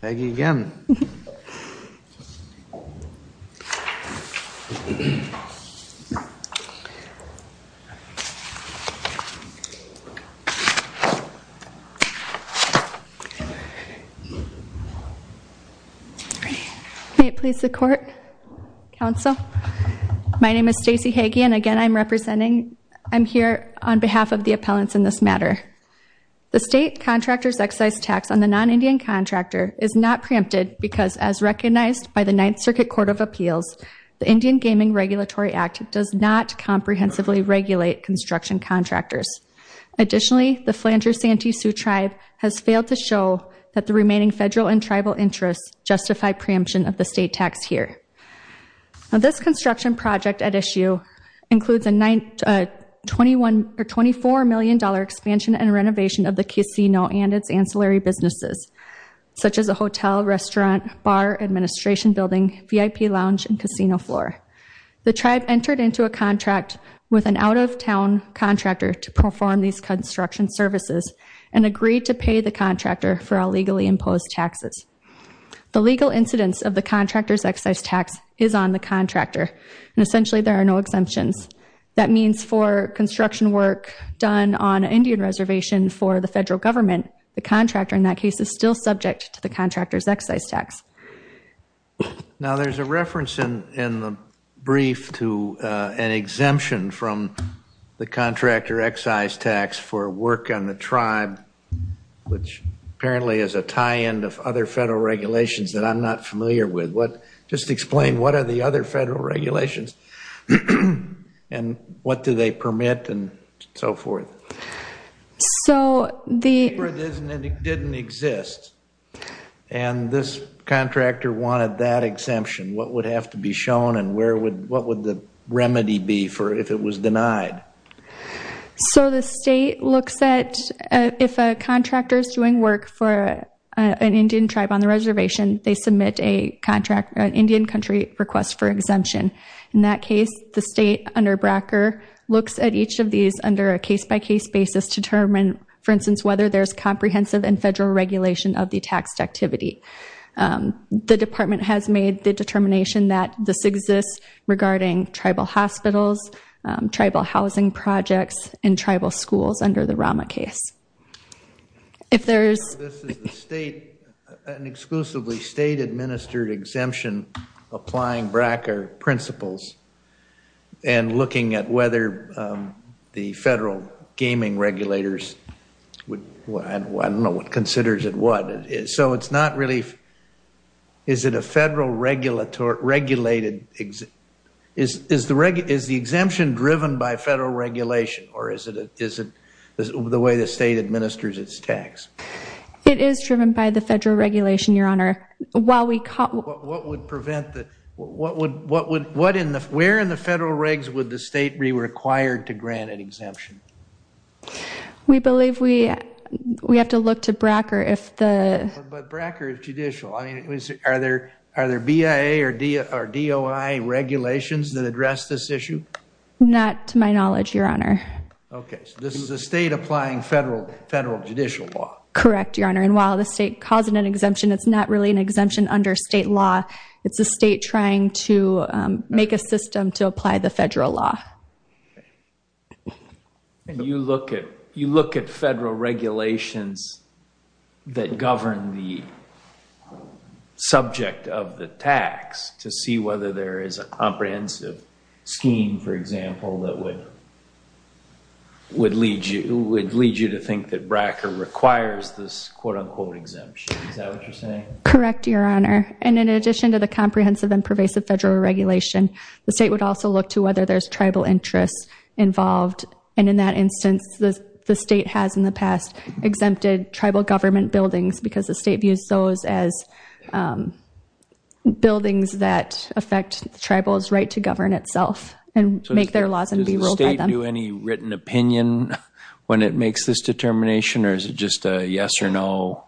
Hagee again May it please the court council My name is Stacey Hagee and again. I'm representing. I'm here on behalf of the appellants in this matter The state contractors excise tax on the non-indian contractor is not preempted because as recognized by the Ninth Circuit Court of Appeals The Indian Gaming Regulatory Act does not comprehensively regulate construction contractors Additionally the Flandreau Santee Sioux Tribe has failed to show that the remaining federal and tribal interests justify preemption of the state tax here Now this construction project at issue includes a 21 or 24 million dollar expansion and renovation of the casino and its ancillary businesses Such as a hotel restaurant bar administration building VIP lounge and casino floor The tribe entered into a contract with an out-of-town Contractor to perform these construction services and agreed to pay the contractor for a legally imposed taxes The legal incidence of the contractors excise tax is on the contractor and essentially there are no exemptions that means for Construction work done on Indian reservation for the federal government the contractor in that case is still subject to the contractors excise tax Now there's a reference in in the brief to an exemption from The contractor excise tax for work on the tribe Which apparently is a tie-in of other federal regulations that I'm not familiar with what just explain What are the other federal regulations? And what do they permit and so forth? so the didn't exist and This contractor wanted that exemption. What would have to be shown and where would what would the remedy be for if it was denied? so the state looks at if a contractor is doing work for An Indian tribe on the reservation they submit a contract an Indian country request for exemption in that case the state under Bracker Looks at each of these under a case-by-case basis determine for instance whether there's comprehensive and federal regulation of the taxed activity The department has made the determination that this exists regarding tribal hospitals tribal housing projects and tribal schools under the Rama case if there's an exclusively state administered exemption applying Bracker principles and looking at whether the federal gaming regulators Would what I don't know what considers it what it is, so it's not relief is It a federal regulator regulated exit is is the reg is the exemption driven by federal regulation or is it it isn't The way the state administers its tax it is driven by the federal regulation your honor while we caught What would prevent that? What would what would what in the where in the federal regs would the state be required to grant an exemption? we believe we We have to look to Bracker if the Bracker is judicial I mean it was are there are there BIA or D or DOI regulations that address this issue Not to my knowledge your honor Okay, this is a state applying federal federal judicial law correct your honor and while the state calls it an exemption It's not really an exemption under state law. It's a state trying to Make a system to apply the federal law And you look at you look at federal regulations that govern the Subject of the tax to see whether there is a comprehensive Scheme for example that would Would lead you would lead you to think that Bracker requires this quote-unquote exemption Correct your honor and in addition to the comprehensive and pervasive federal regulation the state would also look to whether there's tribal interests Involved and in that instance the state has in the past exempted tribal government buildings because the state views those as Buildings that affect the tribal's right to govern itself and make their laws and be ruled by them any written opinion When it makes this determination, or is it just a yes-or-no?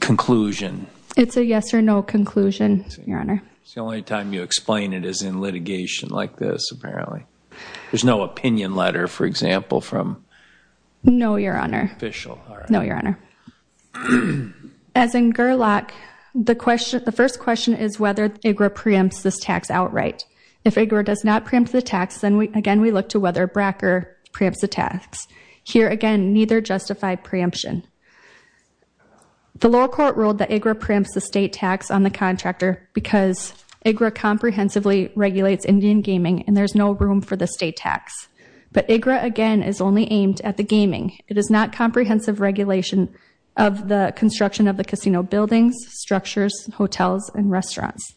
Conclusion it's a yes-or-no conclusion your honor It's the only time you explain it as in litigation like this apparently. There's no opinion letter for example from No, your honor official. No your honor As in Gerlach The question the first question is whether it were preempts this tax outright if a girl does not preempt the tax then we again We look to whether Bracker preempts the tax here again neither justified preemption the lower court ruled that a grip ramps the state tax on the contractor because Agra comprehensively regulates Indian gaming and there's no room for the state tax But agra again is only aimed at the gaming it is not comprehensive regulation of the construction of the casino buildings structures hotels and restaurants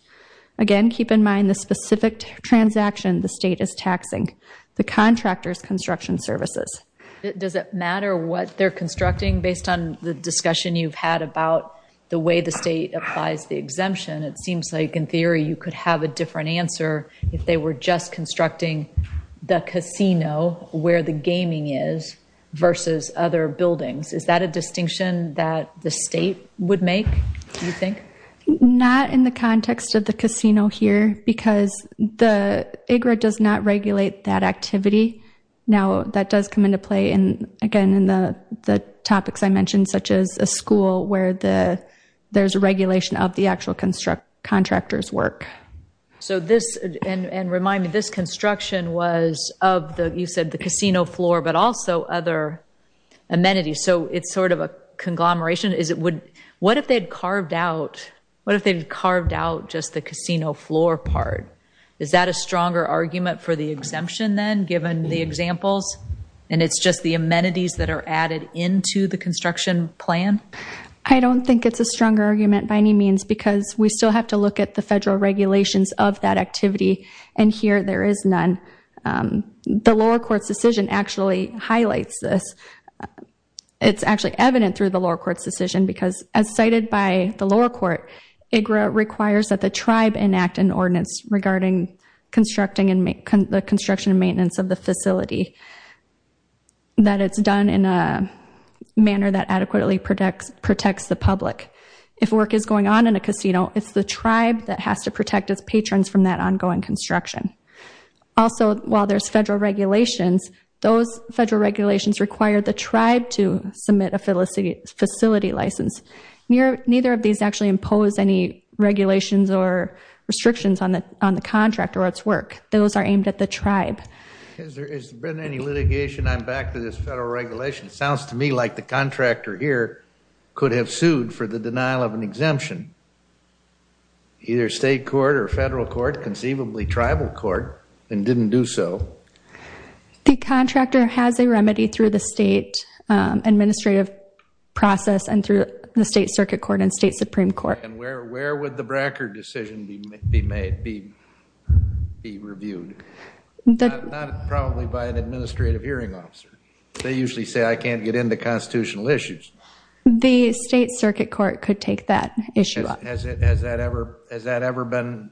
Again, keep in mind the specific Transaction the state is taxing the contractors construction services Does it matter what they're constructing based on the discussion you've had about the way the state applies the exemption? It seems like in theory you could have a different answer if they were just constructing The casino where the gaming is Versus other buildings. Is that a distinction that the state would make you think? Not in the context of the casino here because the agra does not regulate that activity now that does come into play and again in the the topics I mentioned such as a school where the There's a regulation of the actual construct contractors work So this and and remind me this construction was of the you said the casino floor, but also other Amenities, so it's sort of a conglomeration. Is it would what if they'd carved out? What if they've carved out just the casino floor part? Is that a stronger argument for the exemption then given the examples? And it's just the amenities that are added into the construction plan I don't think it's a stronger argument by any means because we still have to look at the federal regulations of that activity and Here there is none The lower courts decision actually highlights this It's actually evident through the lower courts decision because as cited by the lower court Agra requires that the tribe enact an ordinance regarding constructing and make the construction and maintenance of the facility that it's done in a Adequately protects protects the public if work is going on in a casino. It's the tribe that has to protect its patrons from that ongoing construction Also while there's federal regulations those federal regulations require the tribe to submit a phyllis a facility license near neither of these actually impose any regulations or Restrictions on the on the contract or its work those are aimed at the tribe Is there has been any litigation I'm back to this federal regulation it sounds to me like the contractor here Could have sued for the denial of an exemption Either state court or federal court conceivably tribal court and didn't do so The contractor has a remedy through the state administrative process and through the state circuit court and state supreme court and where where would the Bracker decision be made be be reviewed That probably by an administrative hearing officer. They usually say I can't get into constitutional issues The state circuit court could take that issue up as it has that ever has that ever been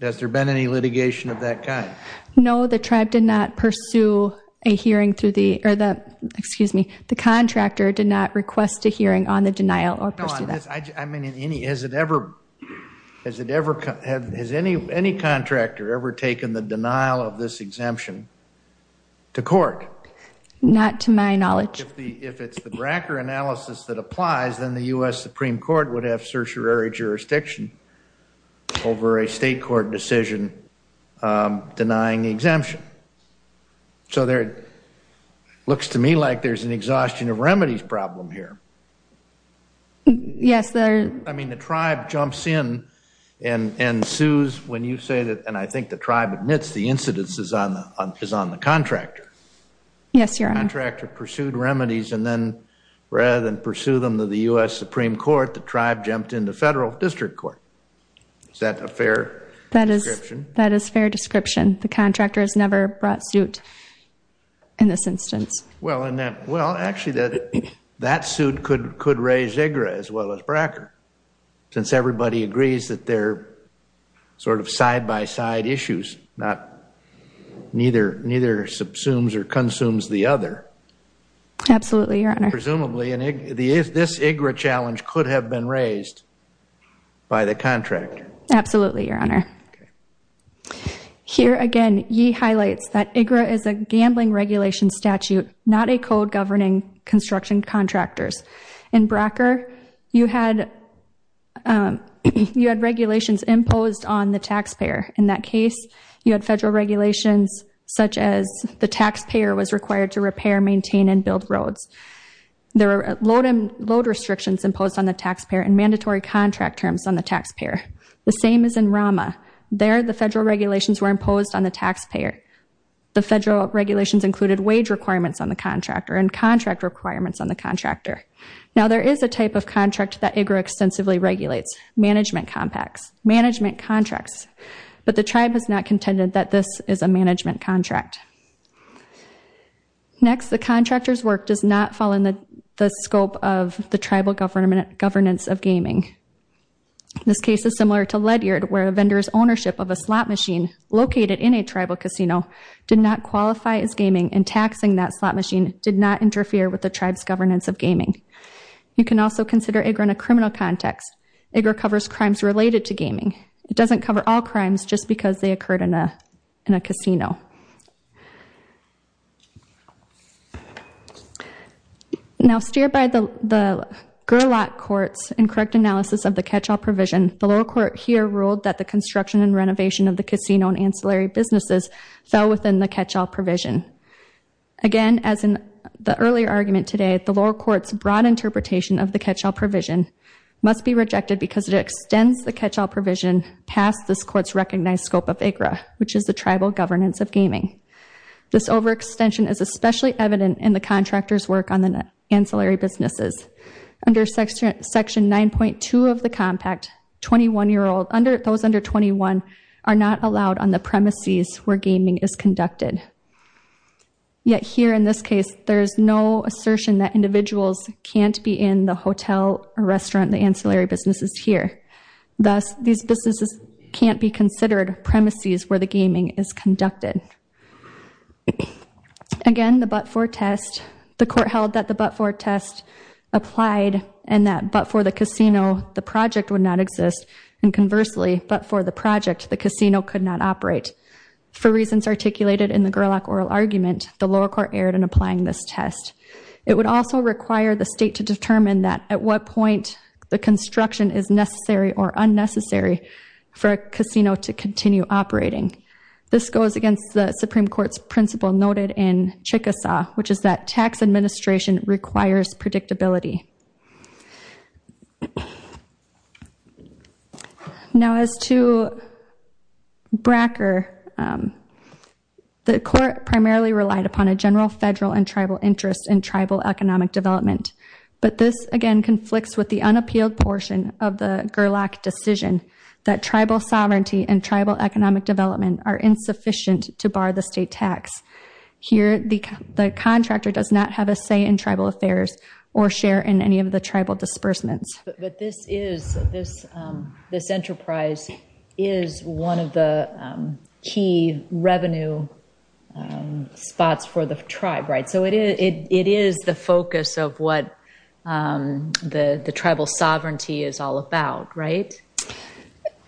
Does there been any litigation of that kind? No, the tribe did not pursue a hearing through the or the excuse me the contractor did not request a hearing on the denial Or go on this. I mean in any has it ever Has it ever had has any any contractor ever taken the denial of this exemption to court Not to my knowledge if it's the Bracker analysis that applies then the US Supreme Court would have certiorari jurisdiction over a state court decision denying the exemption so there Looks to me like there's an exhaustion of remedies problem here Yes, there, I mean the tribe jumps in and And sues when you say that and I think the tribe admits the incidences on the is on the contractor Yes, your contractor pursued remedies and then rather than pursue them to the US Supreme Court the tribe jumped into federal district court Is that a fair that is that is fair description the contractor has never brought suit In this instance well in that well actually that that suit could could raise a gray as well as Bracker since everybody agrees that they're sort of side-by-side issues not Neither neither subsumes or consumes the other Absolutely, your honor presumably and if this igra challenge could have been raised by the contractor. Absolutely your honor Here again ye highlights that igra is a gambling regulation statute not a code governing construction contractors in Bracker you had You had regulations imposed on the taxpayer in that case you had federal regulations Such as the taxpayer was required to repair maintain and build roads There are load and load restrictions imposed on the taxpayer and mandatory contract terms on the taxpayer the same as in Rama There the federal regulations were imposed on the taxpayer The federal regulations included wage requirements on the contractor and contract requirements on the contractor now There is a type of contract that igra extensively regulates management compacts management contracts But the tribe has not contended that this is a management contract Next the contractors work does not fall in the scope of the tribal government governance of gaming This case is similar to Ledyard where a vendor's ownership of a slot machine located in a tribal casino Did not qualify as gaming and taxing that slot machine did not interfere with the tribes governance of gaming You can also consider igra in a criminal context igra covers crimes related to gaming It doesn't cover all crimes just because they occurred in a in a casino Now Steer by the Gerlach courts and correct analysis of the catch-all provision the lower court here ruled that the construction and renovation of the casino and ancillary businesses fell within the catch-all provision Again as in the earlier argument today at the lower courts broad interpretation of the catch-all provision Must be rejected because it extends the catch-all provision past this courts recognized scope of igra Which is the tribal governance of gaming this overextension is especially evident in the contractors work on the net ancillary businesses? under section section 9.2 of the compact 21 year old under those under 21 are not allowed on the premises where gaming is conducted Yet here in this case. There is no assertion that individuals can't be in the hotel or restaurant the ancillary businesses here Thus these businesses can't be considered premises where the gaming is conducted Again the but-for test the court held that the but-for test Applied and that but for the casino the project would not exist and conversely but for the project the casino could not operate For reasons articulated in the Gerlach oral argument the lower court erred in applying this test It would also require the state to determine that at what point the construction is necessary or unnecessary for a casino to continue operating This goes against the Supreme Court's principle noted in Chickasaw, which is that tax administration requires predictability? Now as to Bracker The Court primarily relied upon a general federal and tribal interest in tribal economic development But this again conflicts with the unappealed portion of the Gerlach decision that tribal sovereignty and tribal economic Development are insufficient to bar the state tax Here the contractor does not have a say in tribal affairs or share in any of the tribal disbursements but this is this this enterprise is one of the key revenue Spots for the tribe, right? So it is it is the focus of what? The the tribal sovereignty is all about, right?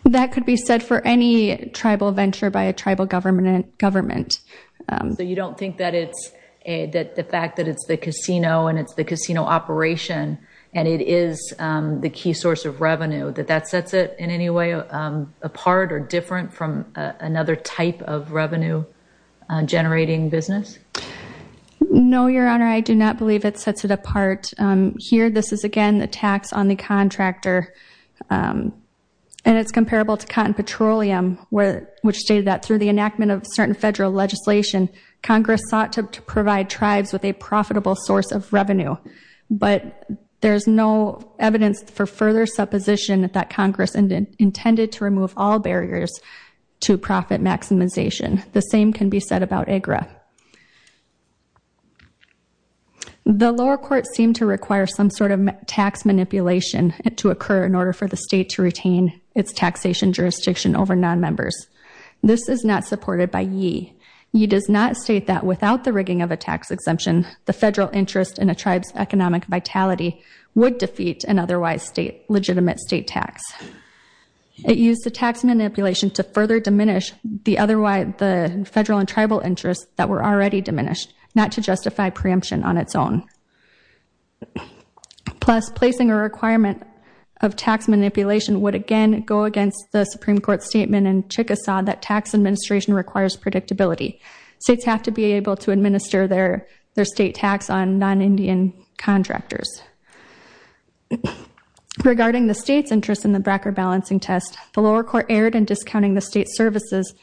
That could be said for any tribal venture by a tribal government and government So you don't think that it's a that the fact that it's the casino and it's the casino operation and it is The key source of revenue that that sets it in any way Apart or different from another type of revenue generating business No, your honor. I do not believe it sets it apart here. This is again the tax on the contractor And it's comparable to cotton petroleum where which stated that through the enactment of certain federal legislation Congress sought to provide tribes with a profitable source of revenue But there's no evidence for further supposition that that Congress and intended to remove all barriers To profit maximization the same can be said about a graph The lower court seemed to require some sort of tax Manipulation and to occur in order for the state to retain its taxation jurisdiction over non-members This is not supported by ye He does not state that without the rigging of a tax exemption the federal interest in a tribes economic vitality Would defeat an otherwise state legitimate state tax It used the tax manipulation to further diminish the otherwise the federal and tribal interests that were already diminished Not to justify preemption on its own Plus placing a requirement of Unpredictability states have to be able to administer their their state tax on non-indian contractors Regarding the state's interest in the bracker balancing test the lower court erred and discounting the state services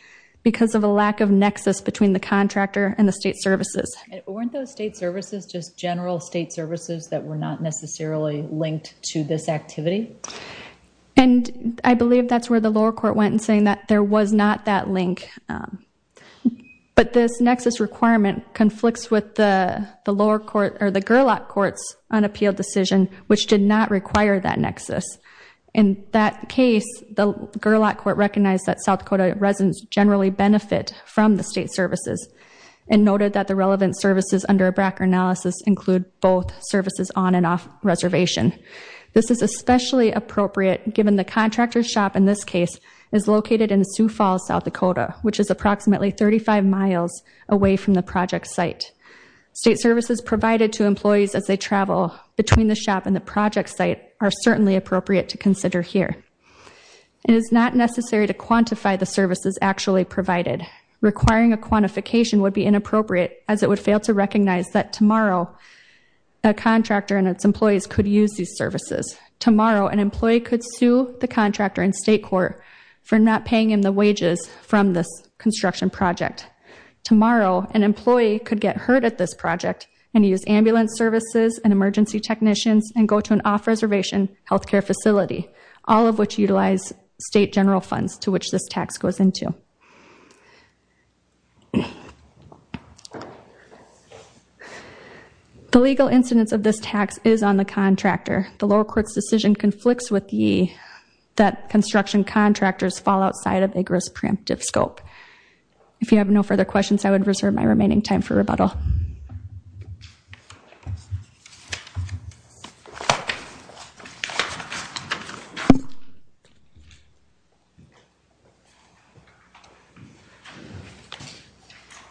Because of a lack of nexus between the contractor and the state services Weren't those state services just general state services that were not necessarily linked to this activity And I believe that's where the lower court went and saying that there was not that link But this nexus requirement conflicts with the the lower court or the Gerlach courts unappealed decision Which did not require that nexus in that case the Gerlach court recognized that South Dakota residents generally benefit from the state services and Noted that the relevant services under a bracker analysis include both services on and off reservation This is especially appropriate given the contractor shop in this case is located in Sioux Falls, South Dakota Which is approximately 35 miles away from the project site? State services provided to employees as they travel between the shop and the project site are certainly appropriate to consider here It is not necessary to quantify the services actually provided Requiring a quantification would be inappropriate as it would fail to recognize that tomorrow a Contractor and its employees could use these services tomorrow an employee could sue the contractor in state court For not paying in the wages from this construction project Tomorrow an employee could get hurt at this project and use ambulance services and emergency technicians and go to an off-reservation Healthcare facility all of which utilize state general funds to which this tax goes into The legal incidence of this tax is on the contractor the lower courts decision conflicts with ye That construction contractors fall outside of a grist preemptive scope If you have no further questions, I would reserve my remaining time for rebuttal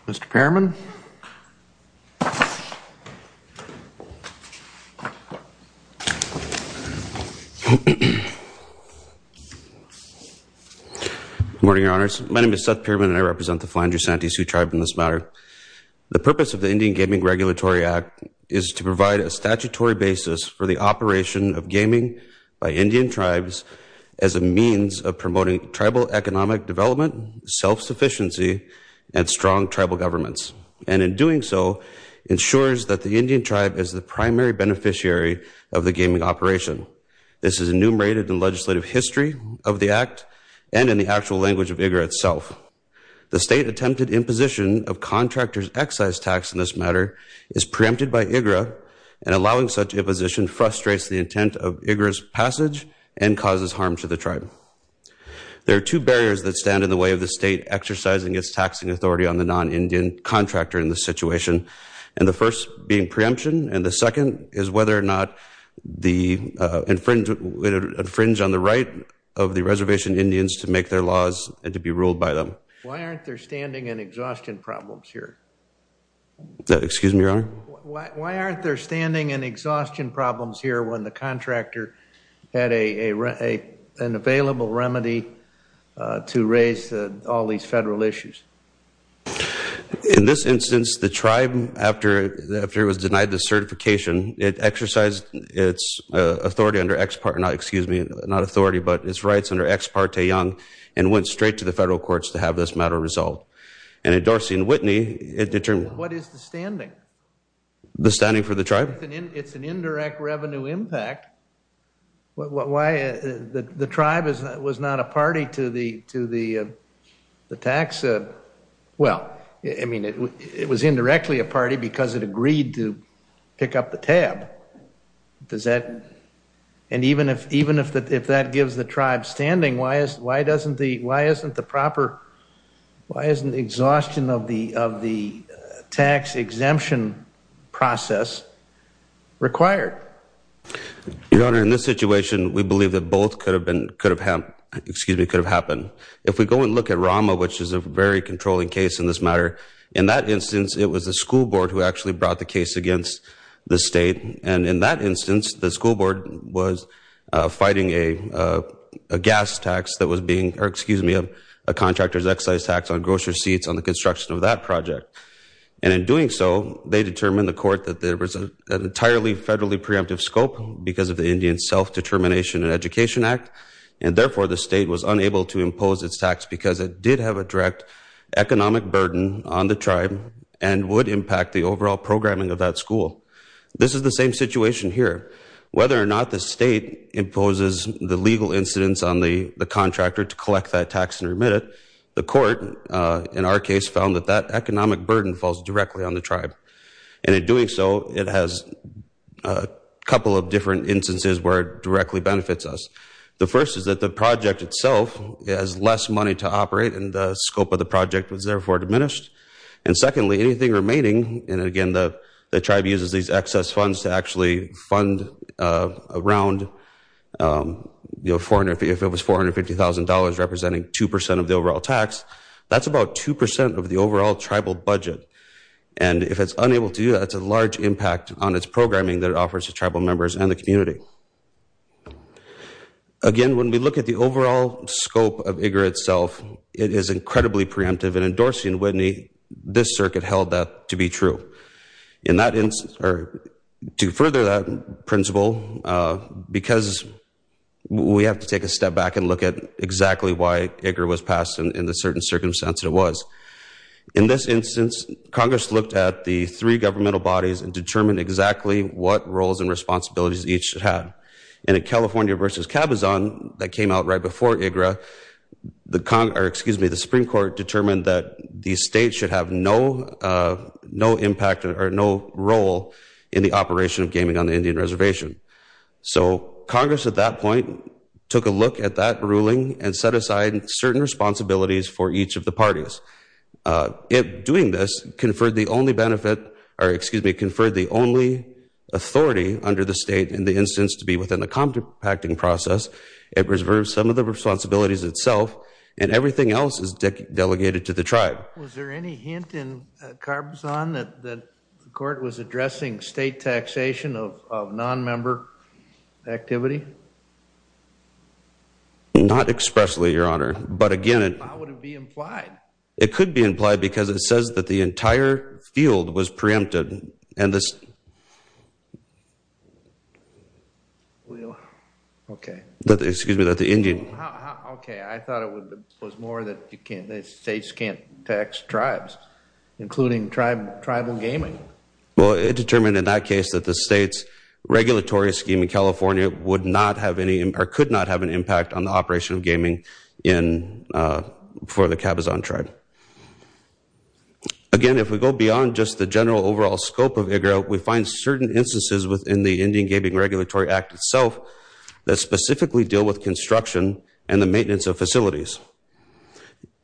Mr.. Chairman I Morning your honors. My name is Seth pyramid and I represent the finder Santy Sioux tribe in this matter the purpose of the Indian Gaming Regulatory Act is to provide a statutory basis for the operation of gaming by Indian tribes as a means of promoting tribal economic development Self-sufficiency and strong tribal governments and in doing so Ensures that the Indian tribe is the primary beneficiary of the gaming operation This is enumerated in legislative history of the act and in the actual language of vigor itself the state attempted imposition of contractors excise tax in this matter is preempted by IGRA and Allowing such a position frustrates the intent of IGRA's passage and causes harm to the tribe There are two barriers that stand in the way of the state exercising its taxing authority on the non-indian contractor in this situation and the first being preemption and the second is whether or not the Infringement would infringe on the right of the reservation Indians to make their laws and to be ruled by them Why aren't there standing and exhaustion problems here? Excuse me your honor. Why aren't there standing and exhaustion problems here when the contractor had a Available remedy to raise all these federal issues In this instance the tribe after that after it was denied the certification it exercised its authority under X part not excuse me not authority but its rights under X part a young and Went straight to the federal courts to have this matter resolved and endorsing Whitney it determined. What is the standing? The standing for the tribe. It's an indirect revenue impact What why the tribe is that was not a party to the to the? the tax Well, I mean it was indirectly a party because it agreed to pick up the tab Does that and even if even if that if that gives the tribe standing why is why doesn't the why isn't the proper? Why isn't the exhaustion of the of the tax exemption? process required Your honor in this situation. We believe that both could have been could have hemp excuse me could have happened If we go and look at Rama, which is a very controlling case in this matter in that instance it was a school board who actually brought the case against the state and in that instance the school board was fighting a Gas tax that was being or excuse me of a contractor's excise tax on grocery seats on the construction of that project and in doing So they determined the court that there was an entirely federally preemptive scope because of the Indian Self-determination and Education Act and therefore the state was unable to impose its tax because it did have a direct Economic burden on the tribe and would impact the overall programming of that school. This is the same situation here Whether or not the state Imposes the legal incidence on the the contractor to collect that tax and remit it the court in our case found that that economic burden falls directly on the tribe and in doing so it has a Couple of different instances where it directly benefits us The first is that the project itself has less money to operate and the scope of the project was therefore diminished and Secondly anything remaining and again the tribe uses these excess funds to actually fund around You know for an if it was four hundred fifty thousand dollars representing two percent of the overall tax That's about two percent of the overall tribal budget And if it's unable to do that's a large impact on its programming that it offers to tribal members and the community Again when we look at the overall scope of IGRA itself It is incredibly preemptive and endorsing Whitney this circuit held that to be true in that instance or to further that principle because We have to take a step back and look at exactly why IGRA was passed and in the certain circumstances it was In this instance Congress looked at the three governmental bodies and determined exactly what roles and responsibilities each should have In a California versus cabazon that came out right before IGRA The con or excuse me the Supreme Court determined that these states should have no No impact or no role in the operation of gaming on the Indian Reservation So Congress at that point took a look at that ruling and set aside certain responsibilities for each of the parties If doing this conferred the only benefit or excuse me conferred the only Authority under the state in the instance to be within the compacting process It reserves some of the responsibilities itself and everything else is Delegated to the tribe. Was there any hint in Carbazan that the court was addressing state taxation of non-member activity Not expressly your honor, but again It could be implied because it says that the entire field was preempted and this We Okay, but excuse me that the Indian Okay, I thought it was more that you can't they states can't tax tribes Including tribe tribal gaming. Well, it determined in that case that the state's Regulatory scheme in California would not have any or could not have an impact on the operation of gaming in for the cabazon tribe Again if we go beyond just the general overall scope of a girl we find certain instances within the Indian Gaming Regulatory Act itself That specifically deal with construction and the maintenance of facilities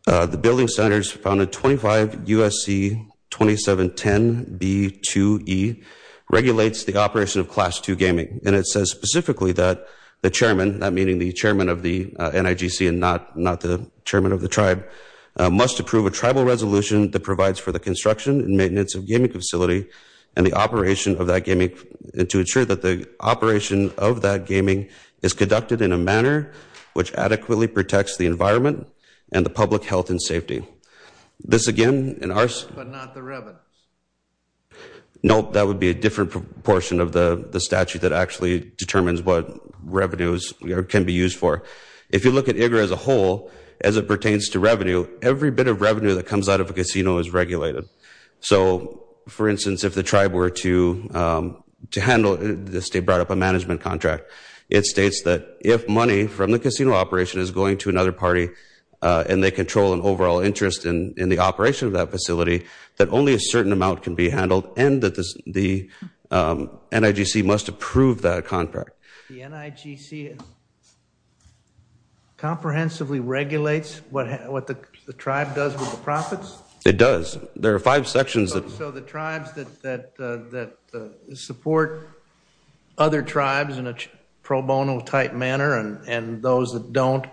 the building centers found a 25 USC 2710 B to E Regulates the operation of class 2 gaming and it says specifically that the chairman that meaning the chairman of the NIGC and not not Chairman of the tribe must approve a tribal resolution that provides for the construction and maintenance of gaming facility and the operation of that gaming and to ensure that the Operation of that gaming is conducted in a manner which adequately protects the environment and the public health and safety this again in our Note that would be a different portion of the the statute that actually determines what Can be used for if you look at a girl as a whole as it pertains to revenue every bit of revenue that comes out of a casino is regulated so for instance if the tribe were to To handle the state brought up a management contract It states that if money from the casino operation is going to another party and they control an overall interest in in the operation of that facility that only a certain amount can be handled and that this the NIGC must approve that contract Comprehensively regulates what what the tribe does with the profits it does there are five sections of the tribes that Support other tribes in a pro bono type manner and and those that don't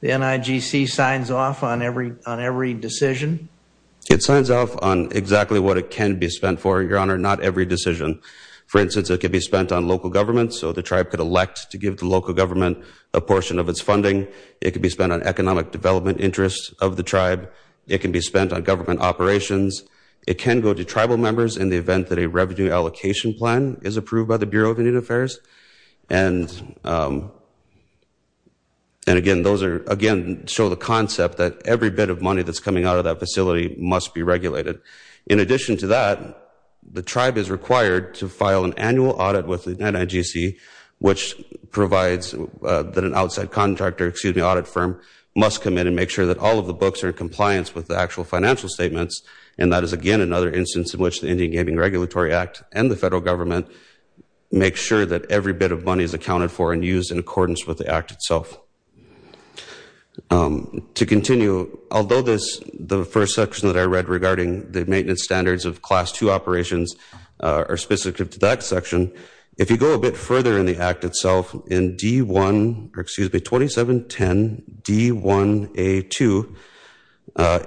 The NIGC signs off on every on every decision It signs off on exactly what it can be spent for your honor not every decision For instance, it could be spent on local government So the tribe could elect to give the local government a portion of its funding It could be spent on economic development interest of the tribe. It can be spent on government operations it can go to tribal members in the event that a revenue allocation plan is approved by the Bureau of Indian Affairs and And Again, those are again show the concept that every bit of money that's coming out of that facility must be regulated in addition to that The tribe is required to file an annual audit with the NIGC which provides That an outside contractor excuse me audit firm Must come in and make sure that all of the books are in compliance with the actual financial statements And that is again another instance in which the Indian Gaming Regulatory Act and the federal government Make sure that every bit of money is accounted for and used in accordance with the act itself To continue although this the first section that I read regarding the maintenance standards of class 2 operations Are specific to that section if you go a bit further in the act itself in d1 or excuse me 2710 d1 a 2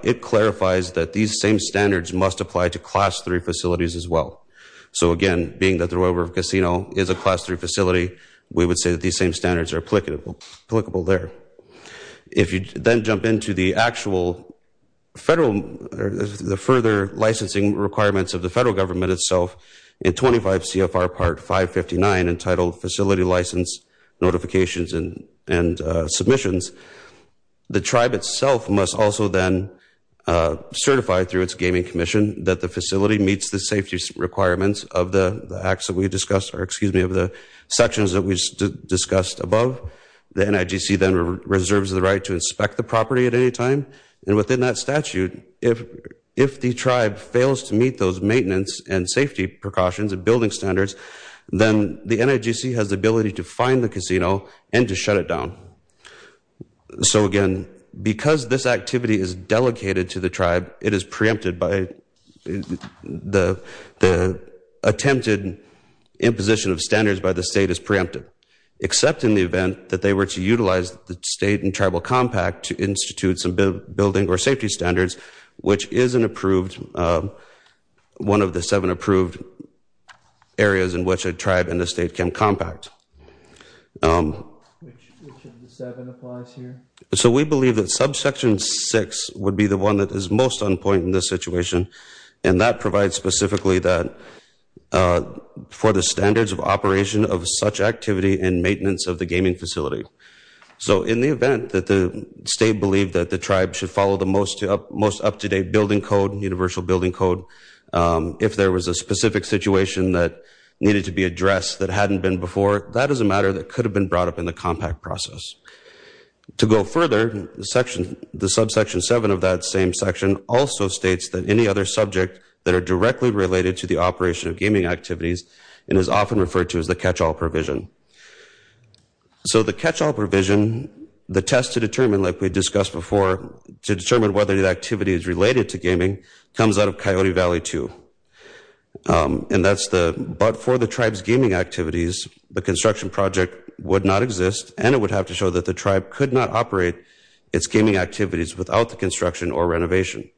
It clarifies that these same standards must apply to class 3 facilities as well So again being that the Royal River Casino is a class 3 facility We would say that these same standards are applicable applicable there If you then jump into the actual federal The further licensing requirements of the federal government itself in 25 CFR part 559 entitled facility license notifications and and submissions the tribe itself must also then Certify through its gaming Commission that the facility meets the safety requirements of the acts that we discussed or excuse me of the sections that we discussed above the NIGC then reserves the right to inspect the property at any time and within that statute if If the tribe fails to meet those maintenance and safety precautions and building standards Then the NIGC has the ability to find the casino and to shut it down So again because this activity is delegated to the tribe it is preempted by the attempted Imposition of standards by the state is preemptive Except in the event that they were to utilize the state and tribal compact to institute some building or safety standards Which is an approved? one of the seven approved Areas in which a tribe and the state can compact So we believe that subsection six would be the one that is most on point in this situation and that provides specifically that For the standards of operation of such activity and maintenance of the gaming facility So in the event that the state believed that the tribe should follow the most most up-to-date building code and universal building code If there was a specific situation that needed to be addressed that hadn't been before that is a matter that could have been brought up in the compact process to go further the section the subsection seven of that same section also states that any other subject that are directly related to the Operation of gaming activities and is often referred to as the catch-all provision So the catch-all provision the test to determine like we discussed before To determine whether the activity is related to gaming comes out of Coyote Valley, too And that's the but for the tribes gaming activities the construction project would not exist And it would have to show that the tribe could not operate its gaming activities without the construction or renovation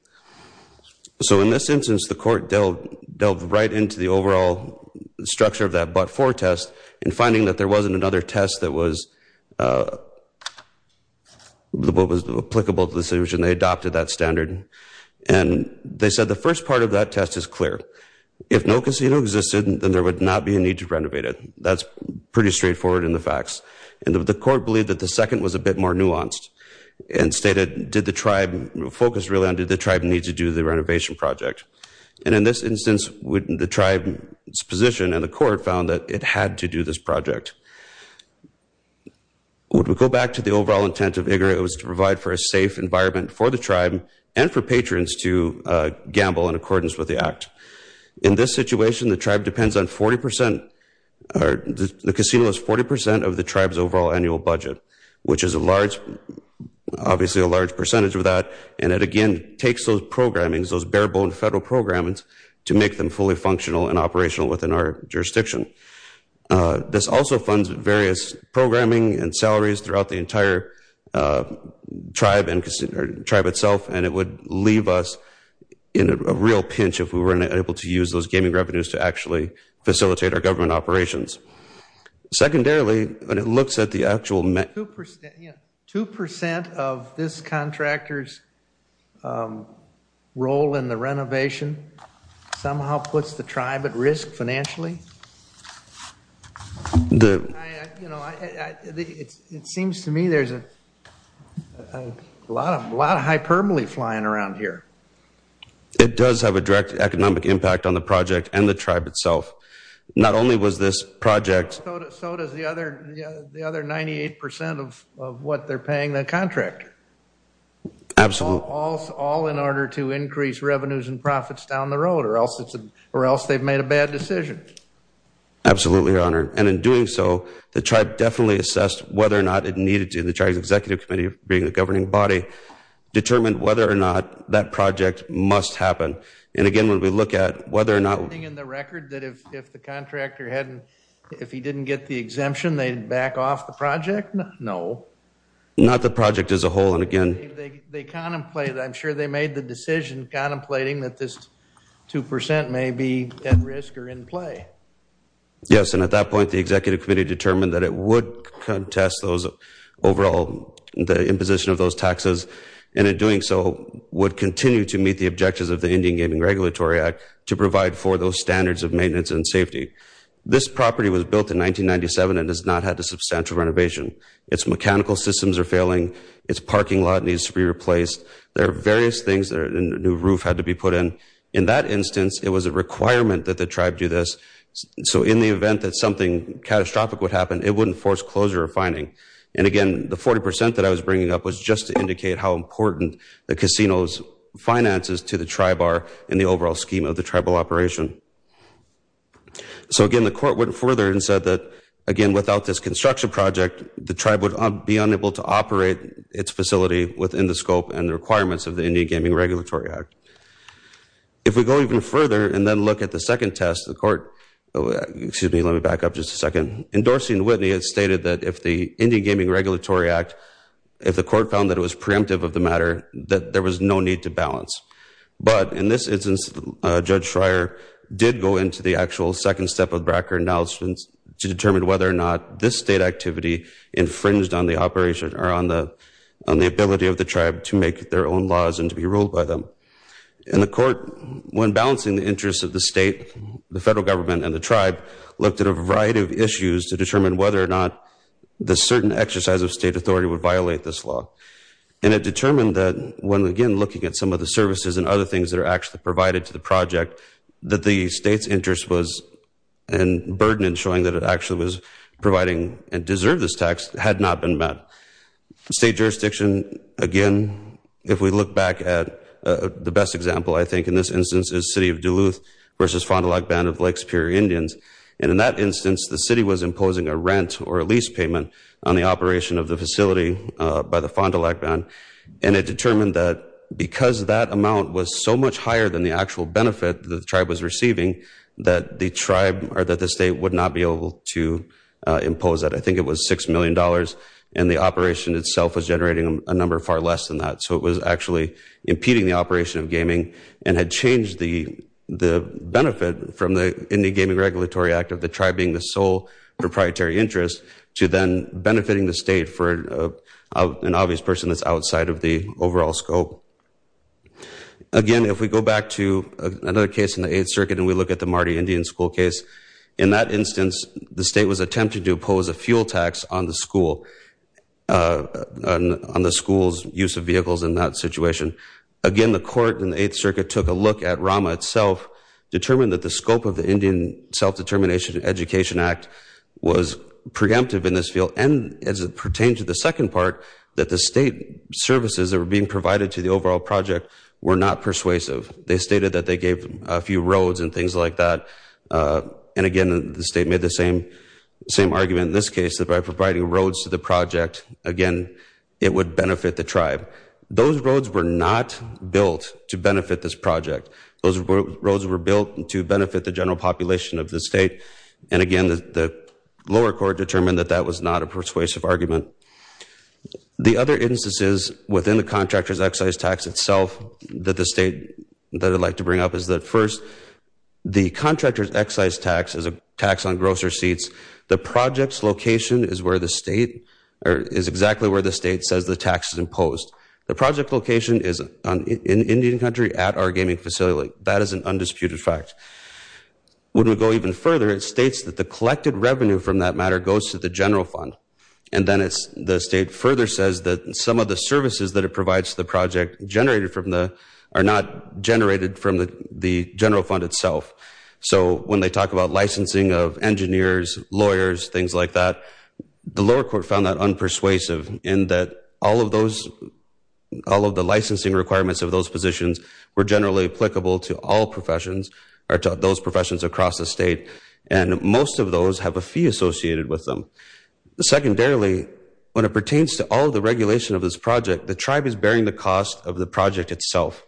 So in this instance the court dealt dealt right into the overall Structure of that but for test and finding that there wasn't another test that was The boat was applicable to the solution they adopted that standard and They said the first part of that test is clear if no casino existed, then there would not be a need to renovate it That's pretty straightforward in the facts and the court believed that the second was a bit more nuanced and stated did the tribe Focus really on did the tribe need to do the renovation project and in this instance wouldn't the tribe? Position and the court found that it had to do this project Would we go back to the overall intent of Igor it was to provide for a safe environment for the tribe and for patrons to Gamble in accordance with the act in this situation the tribe depends on 40% Or the casino is 40% of the tribes overall annual budget, which is a large Obviously a large percentage of that and it again takes those programmings those bare-boned federal programs to make them fully functional and operational within our jurisdiction This also funds various programming and salaries throughout the entire Tribe and consider tribe itself and it would leave us in a real pinch if we weren't able to use those gaming revenues to actually facilitate our government operations Secondarily, but it looks at the actual met 2% 2% of this contractors Role in the renovation somehow puts the tribe at risk financially It Seems to me there's a Lot of a lot of hyperbole flying around here It does have a direct economic impact on the project and the tribe itself. Not only was this project The other 98% of what they're paying the contractor Absolute all in order to increase revenues and profits down the road or else it's a or else they've made a bad decision Absolutely, your honor and in doing so the tribe definitely assessed whether or not it needed to the charge executive committee being a governing body Determined whether or not that project must happen and again when we look at whether or not in the record that if the contractor Hadn't if he didn't get the exemption they'd back off the project. No Not the project as a whole and again, they contemplate. I'm sure they made the decision contemplating that this 2% may be at risk or in play Yes, and at that point the executive committee determined that it would contest those overall the imposition of those taxes and in doing so Would continue to meet the objectives of the Indian Gaming Regulatory Act to provide for those standards of maintenance and safety This property was built in 1997 and has not had a substantial renovation It's mechanical systems are failing its parking lot needs to be replaced There are various things that are in the new roof had to be put in in that instance It was a requirement that the tribe do this So in the event that something catastrophic would happen It wouldn't force closure or finding and again the 40% that I was bringing up was just to indicate how important the casinos Finances to the tribe are in the overall scheme of the tribal operation So again, the court went further and said that again without this construction project The tribe would be unable to operate its facility within the scope and the requirements of the Indian Gaming Regulatory Act If we go even further and then look at the second test the court Excuse me. Let me back up just a second endorsing the Whitney It's stated that if the Indian Gaming Regulatory Act if the court found that it was preemptive of the matter that there was no need to balance but in this instance Judge Schreier did go into the actual second step of Bracker announcements to determine whether or not this state activity infringed on the operation or on the Ability of the tribe to make their own laws and to be ruled by them in the court when balancing the interests of the state the federal government and the tribe looked at a variety of issues to determine whether or Not the certain exercise of state authority would violate this law And it determined that when again looking at some of the services and other things that are actually provided to the project that the state's interest was and Burdened showing that it actually was providing and deserve this tax had not been met State jurisdiction again, if we look back at the best example I think in this instance is city of Duluth versus Fond du Lac band of Lake Superior Indians and in that instance the city was imposing a rent or a lease payment on the operation of the facility By the Fond du Lac band and it determined that Because that amount was so much higher than the actual benefit the tribe was receiving That the tribe or that the state would not be able to Impose that I think it was six million dollars and the operation itself was generating a number far less than that so it was actually impeding the operation of gaming and had changed the Benefit from the Indy Gaming Regulatory Act of the tribe being the sole proprietary interest to then benefiting the state for An obvious person that's outside of the overall scope Again, if we go back to another case in the Eighth Circuit and we look at the Marty Indian school case in that instance The state was attempting to oppose a fuel tax on the school On the school's use of vehicles in that situation again, the court in the Eighth Circuit took a look at Rama itself Determined that the scope of the Indian Self-determination Education Act was preemptive in this field and as it pertained to the second part that the state Services that were being provided to the overall project were not persuasive They stated that they gave a few roads and things like that And again the state made the same Same argument in this case that by providing roads to the project again It would benefit the tribe those roads were not built to benefit this project those roads were built and to benefit the general population of the state and again the Lower court determined that that was not a persuasive argument The other instances within the contractors excise tax itself that the state that I'd like to bring up is that first? The contractors excise tax is a tax on gross receipts the project's location is where the state Is exactly where the state says the tax is imposed the project location is in Indian country at our gaming facility That is an undisputed fact When we go even further it states that the collected revenue from that matter goes to the general fund And then it's the state further says that some of the services that it provides the project Generated from the are not generated from the the general fund itself So when they talk about licensing of engineers lawyers things like that The lower court found that unpersuasive in that all of those all of the licensing requirements of those positions were generally applicable to all professions are taught those professions across the state and Most of those have a fee associated with them Secondarily when it pertains to all the regulation of this project the tribe is bearing the cost of the project itself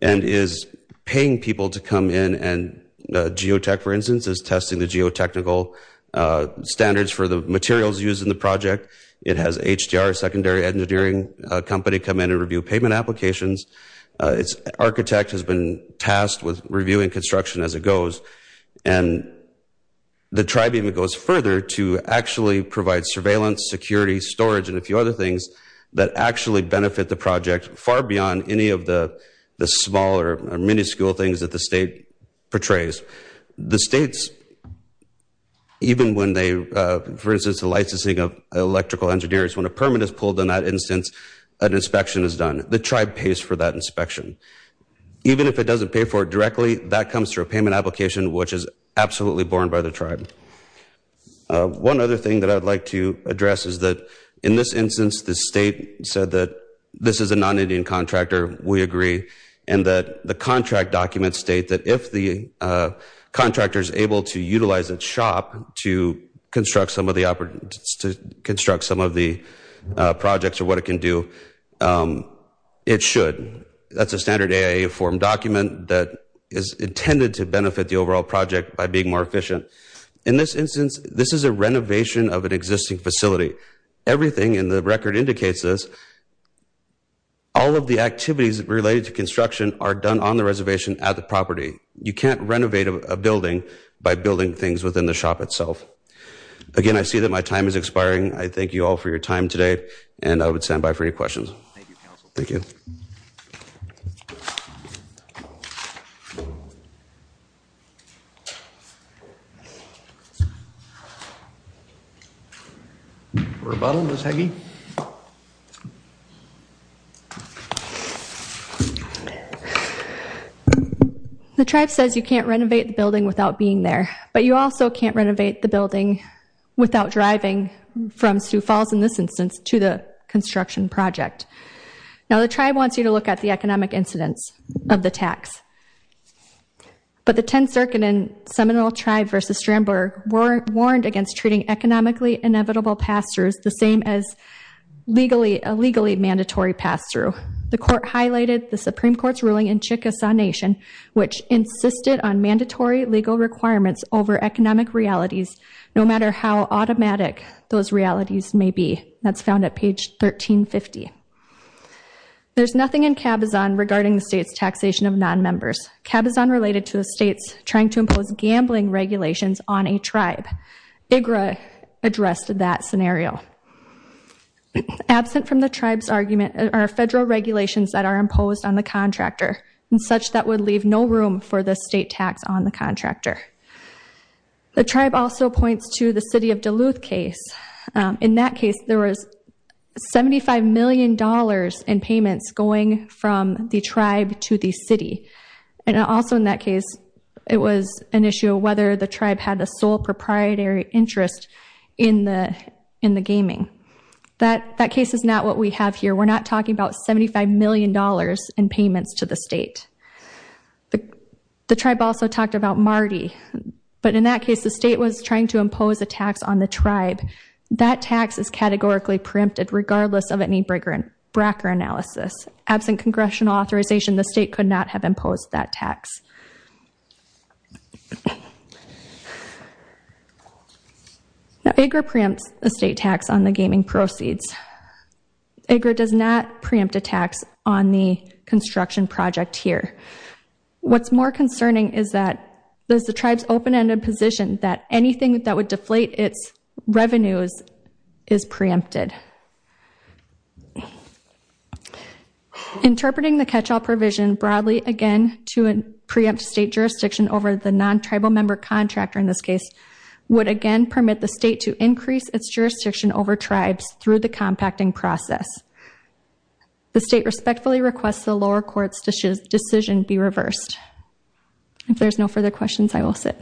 and is paying people to come in and Geotech for instance is testing the geotechnical Standards for the materials used in the project it has HDR secondary engineering company come in and review payment applications its architect has been tasked with reviewing construction as it goes and The tribe even goes further to actually provide surveillance security storage and a few other things that Actually benefit the project far beyond any of the the smaller miniscule things that the state portrays the state's Even when they for instance the licensing of electrical engineers when a permit is pulled in that instance an inspection is done The tribe pays for that inspection Even if it doesn't pay for it directly that comes through a payment application, which is absolutely borne by the tribe One other thing that I'd like to address is that in this instance the state said that this is a non-indian contractor we agree and that the contract documents state that if the contractors able to utilize its shop to construct some of the opportunities to construct some of the projects or what it can do It should that's a standard a a form document that is Intended to benefit the overall project by being more efficient in this instance. This is a renovation of an existing facility everything in the record indicates this All of the activities related to construction are done on the reservation at the property You can't renovate a building by building things within the shop itself Again, I see that my time is expiring. I thank you all for your time today, and I would stand by for any questions Thank you Rebuttal is hanging The tribe says you can't renovate the building without being there, but you also can't renovate the building without driving from Sioux Falls in this instance to the construction project Now the tribe wants you to look at the economic incidence of the tax but the 10th circuit in Seminole tribe versus Strandberg were warned against treating economically inevitable pastors the same as Legally a legally mandatory pass-through the court highlighted the Supreme Court's ruling in Chickasaw Nation Which insisted on mandatory legal requirements over economic realities no matter how automatic those realities? Maybe that's found at page 1350 There's nothing in cabazon regarding the state's taxation of non-members cabazon related to the state's trying to impose gambling regulations on a tribe igra addressed that scenario Absent from the tribes argument our federal regulations that are imposed on the contractor and such that would leave no room for the state tax on the contractor The tribe also points to the city of Duluth case in that case there was 75 million dollars in payments going from the tribe to the city and also in that case It was an issue whether the tribe had the sole proprietary interest in the in the gaming That that case is not what we have here. We're not talking about 75 million dollars in payments to the state But the tribe also talked about Marty But in that case the state was trying to impose a tax on the tribe that tax is categorically preempted regardless of any breaker and Bracker analysis absent congressional authorization the state could not have imposed that tax Now acre preempts the state tax on the gaming proceeds Agra does not preempt a tax on the construction project here What's more concerning is that there's the tribes open-ended position that anything that would deflate its revenues is preempted Interpreting the catch-all provision broadly again to an preempt state jurisdiction over the non-tribal member contractor in this case Would again permit the state to increase its jurisdiction over tribes through the compacting process The state respectfully requests the lower courts decision be reversed If there's no further questions, I will sit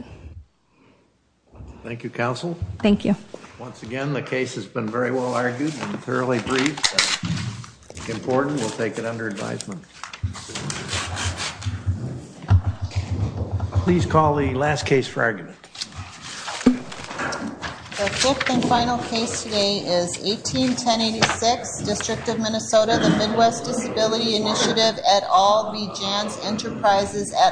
Thank You counsel, thank you. Once again, the case has been very well argued and thoroughly briefed Important we'll take it under advisement Please call the last case for argument The fifth and final case today is 1810 86 district of Minnesota the Midwest disability initiative at all the Jan's enterprises at all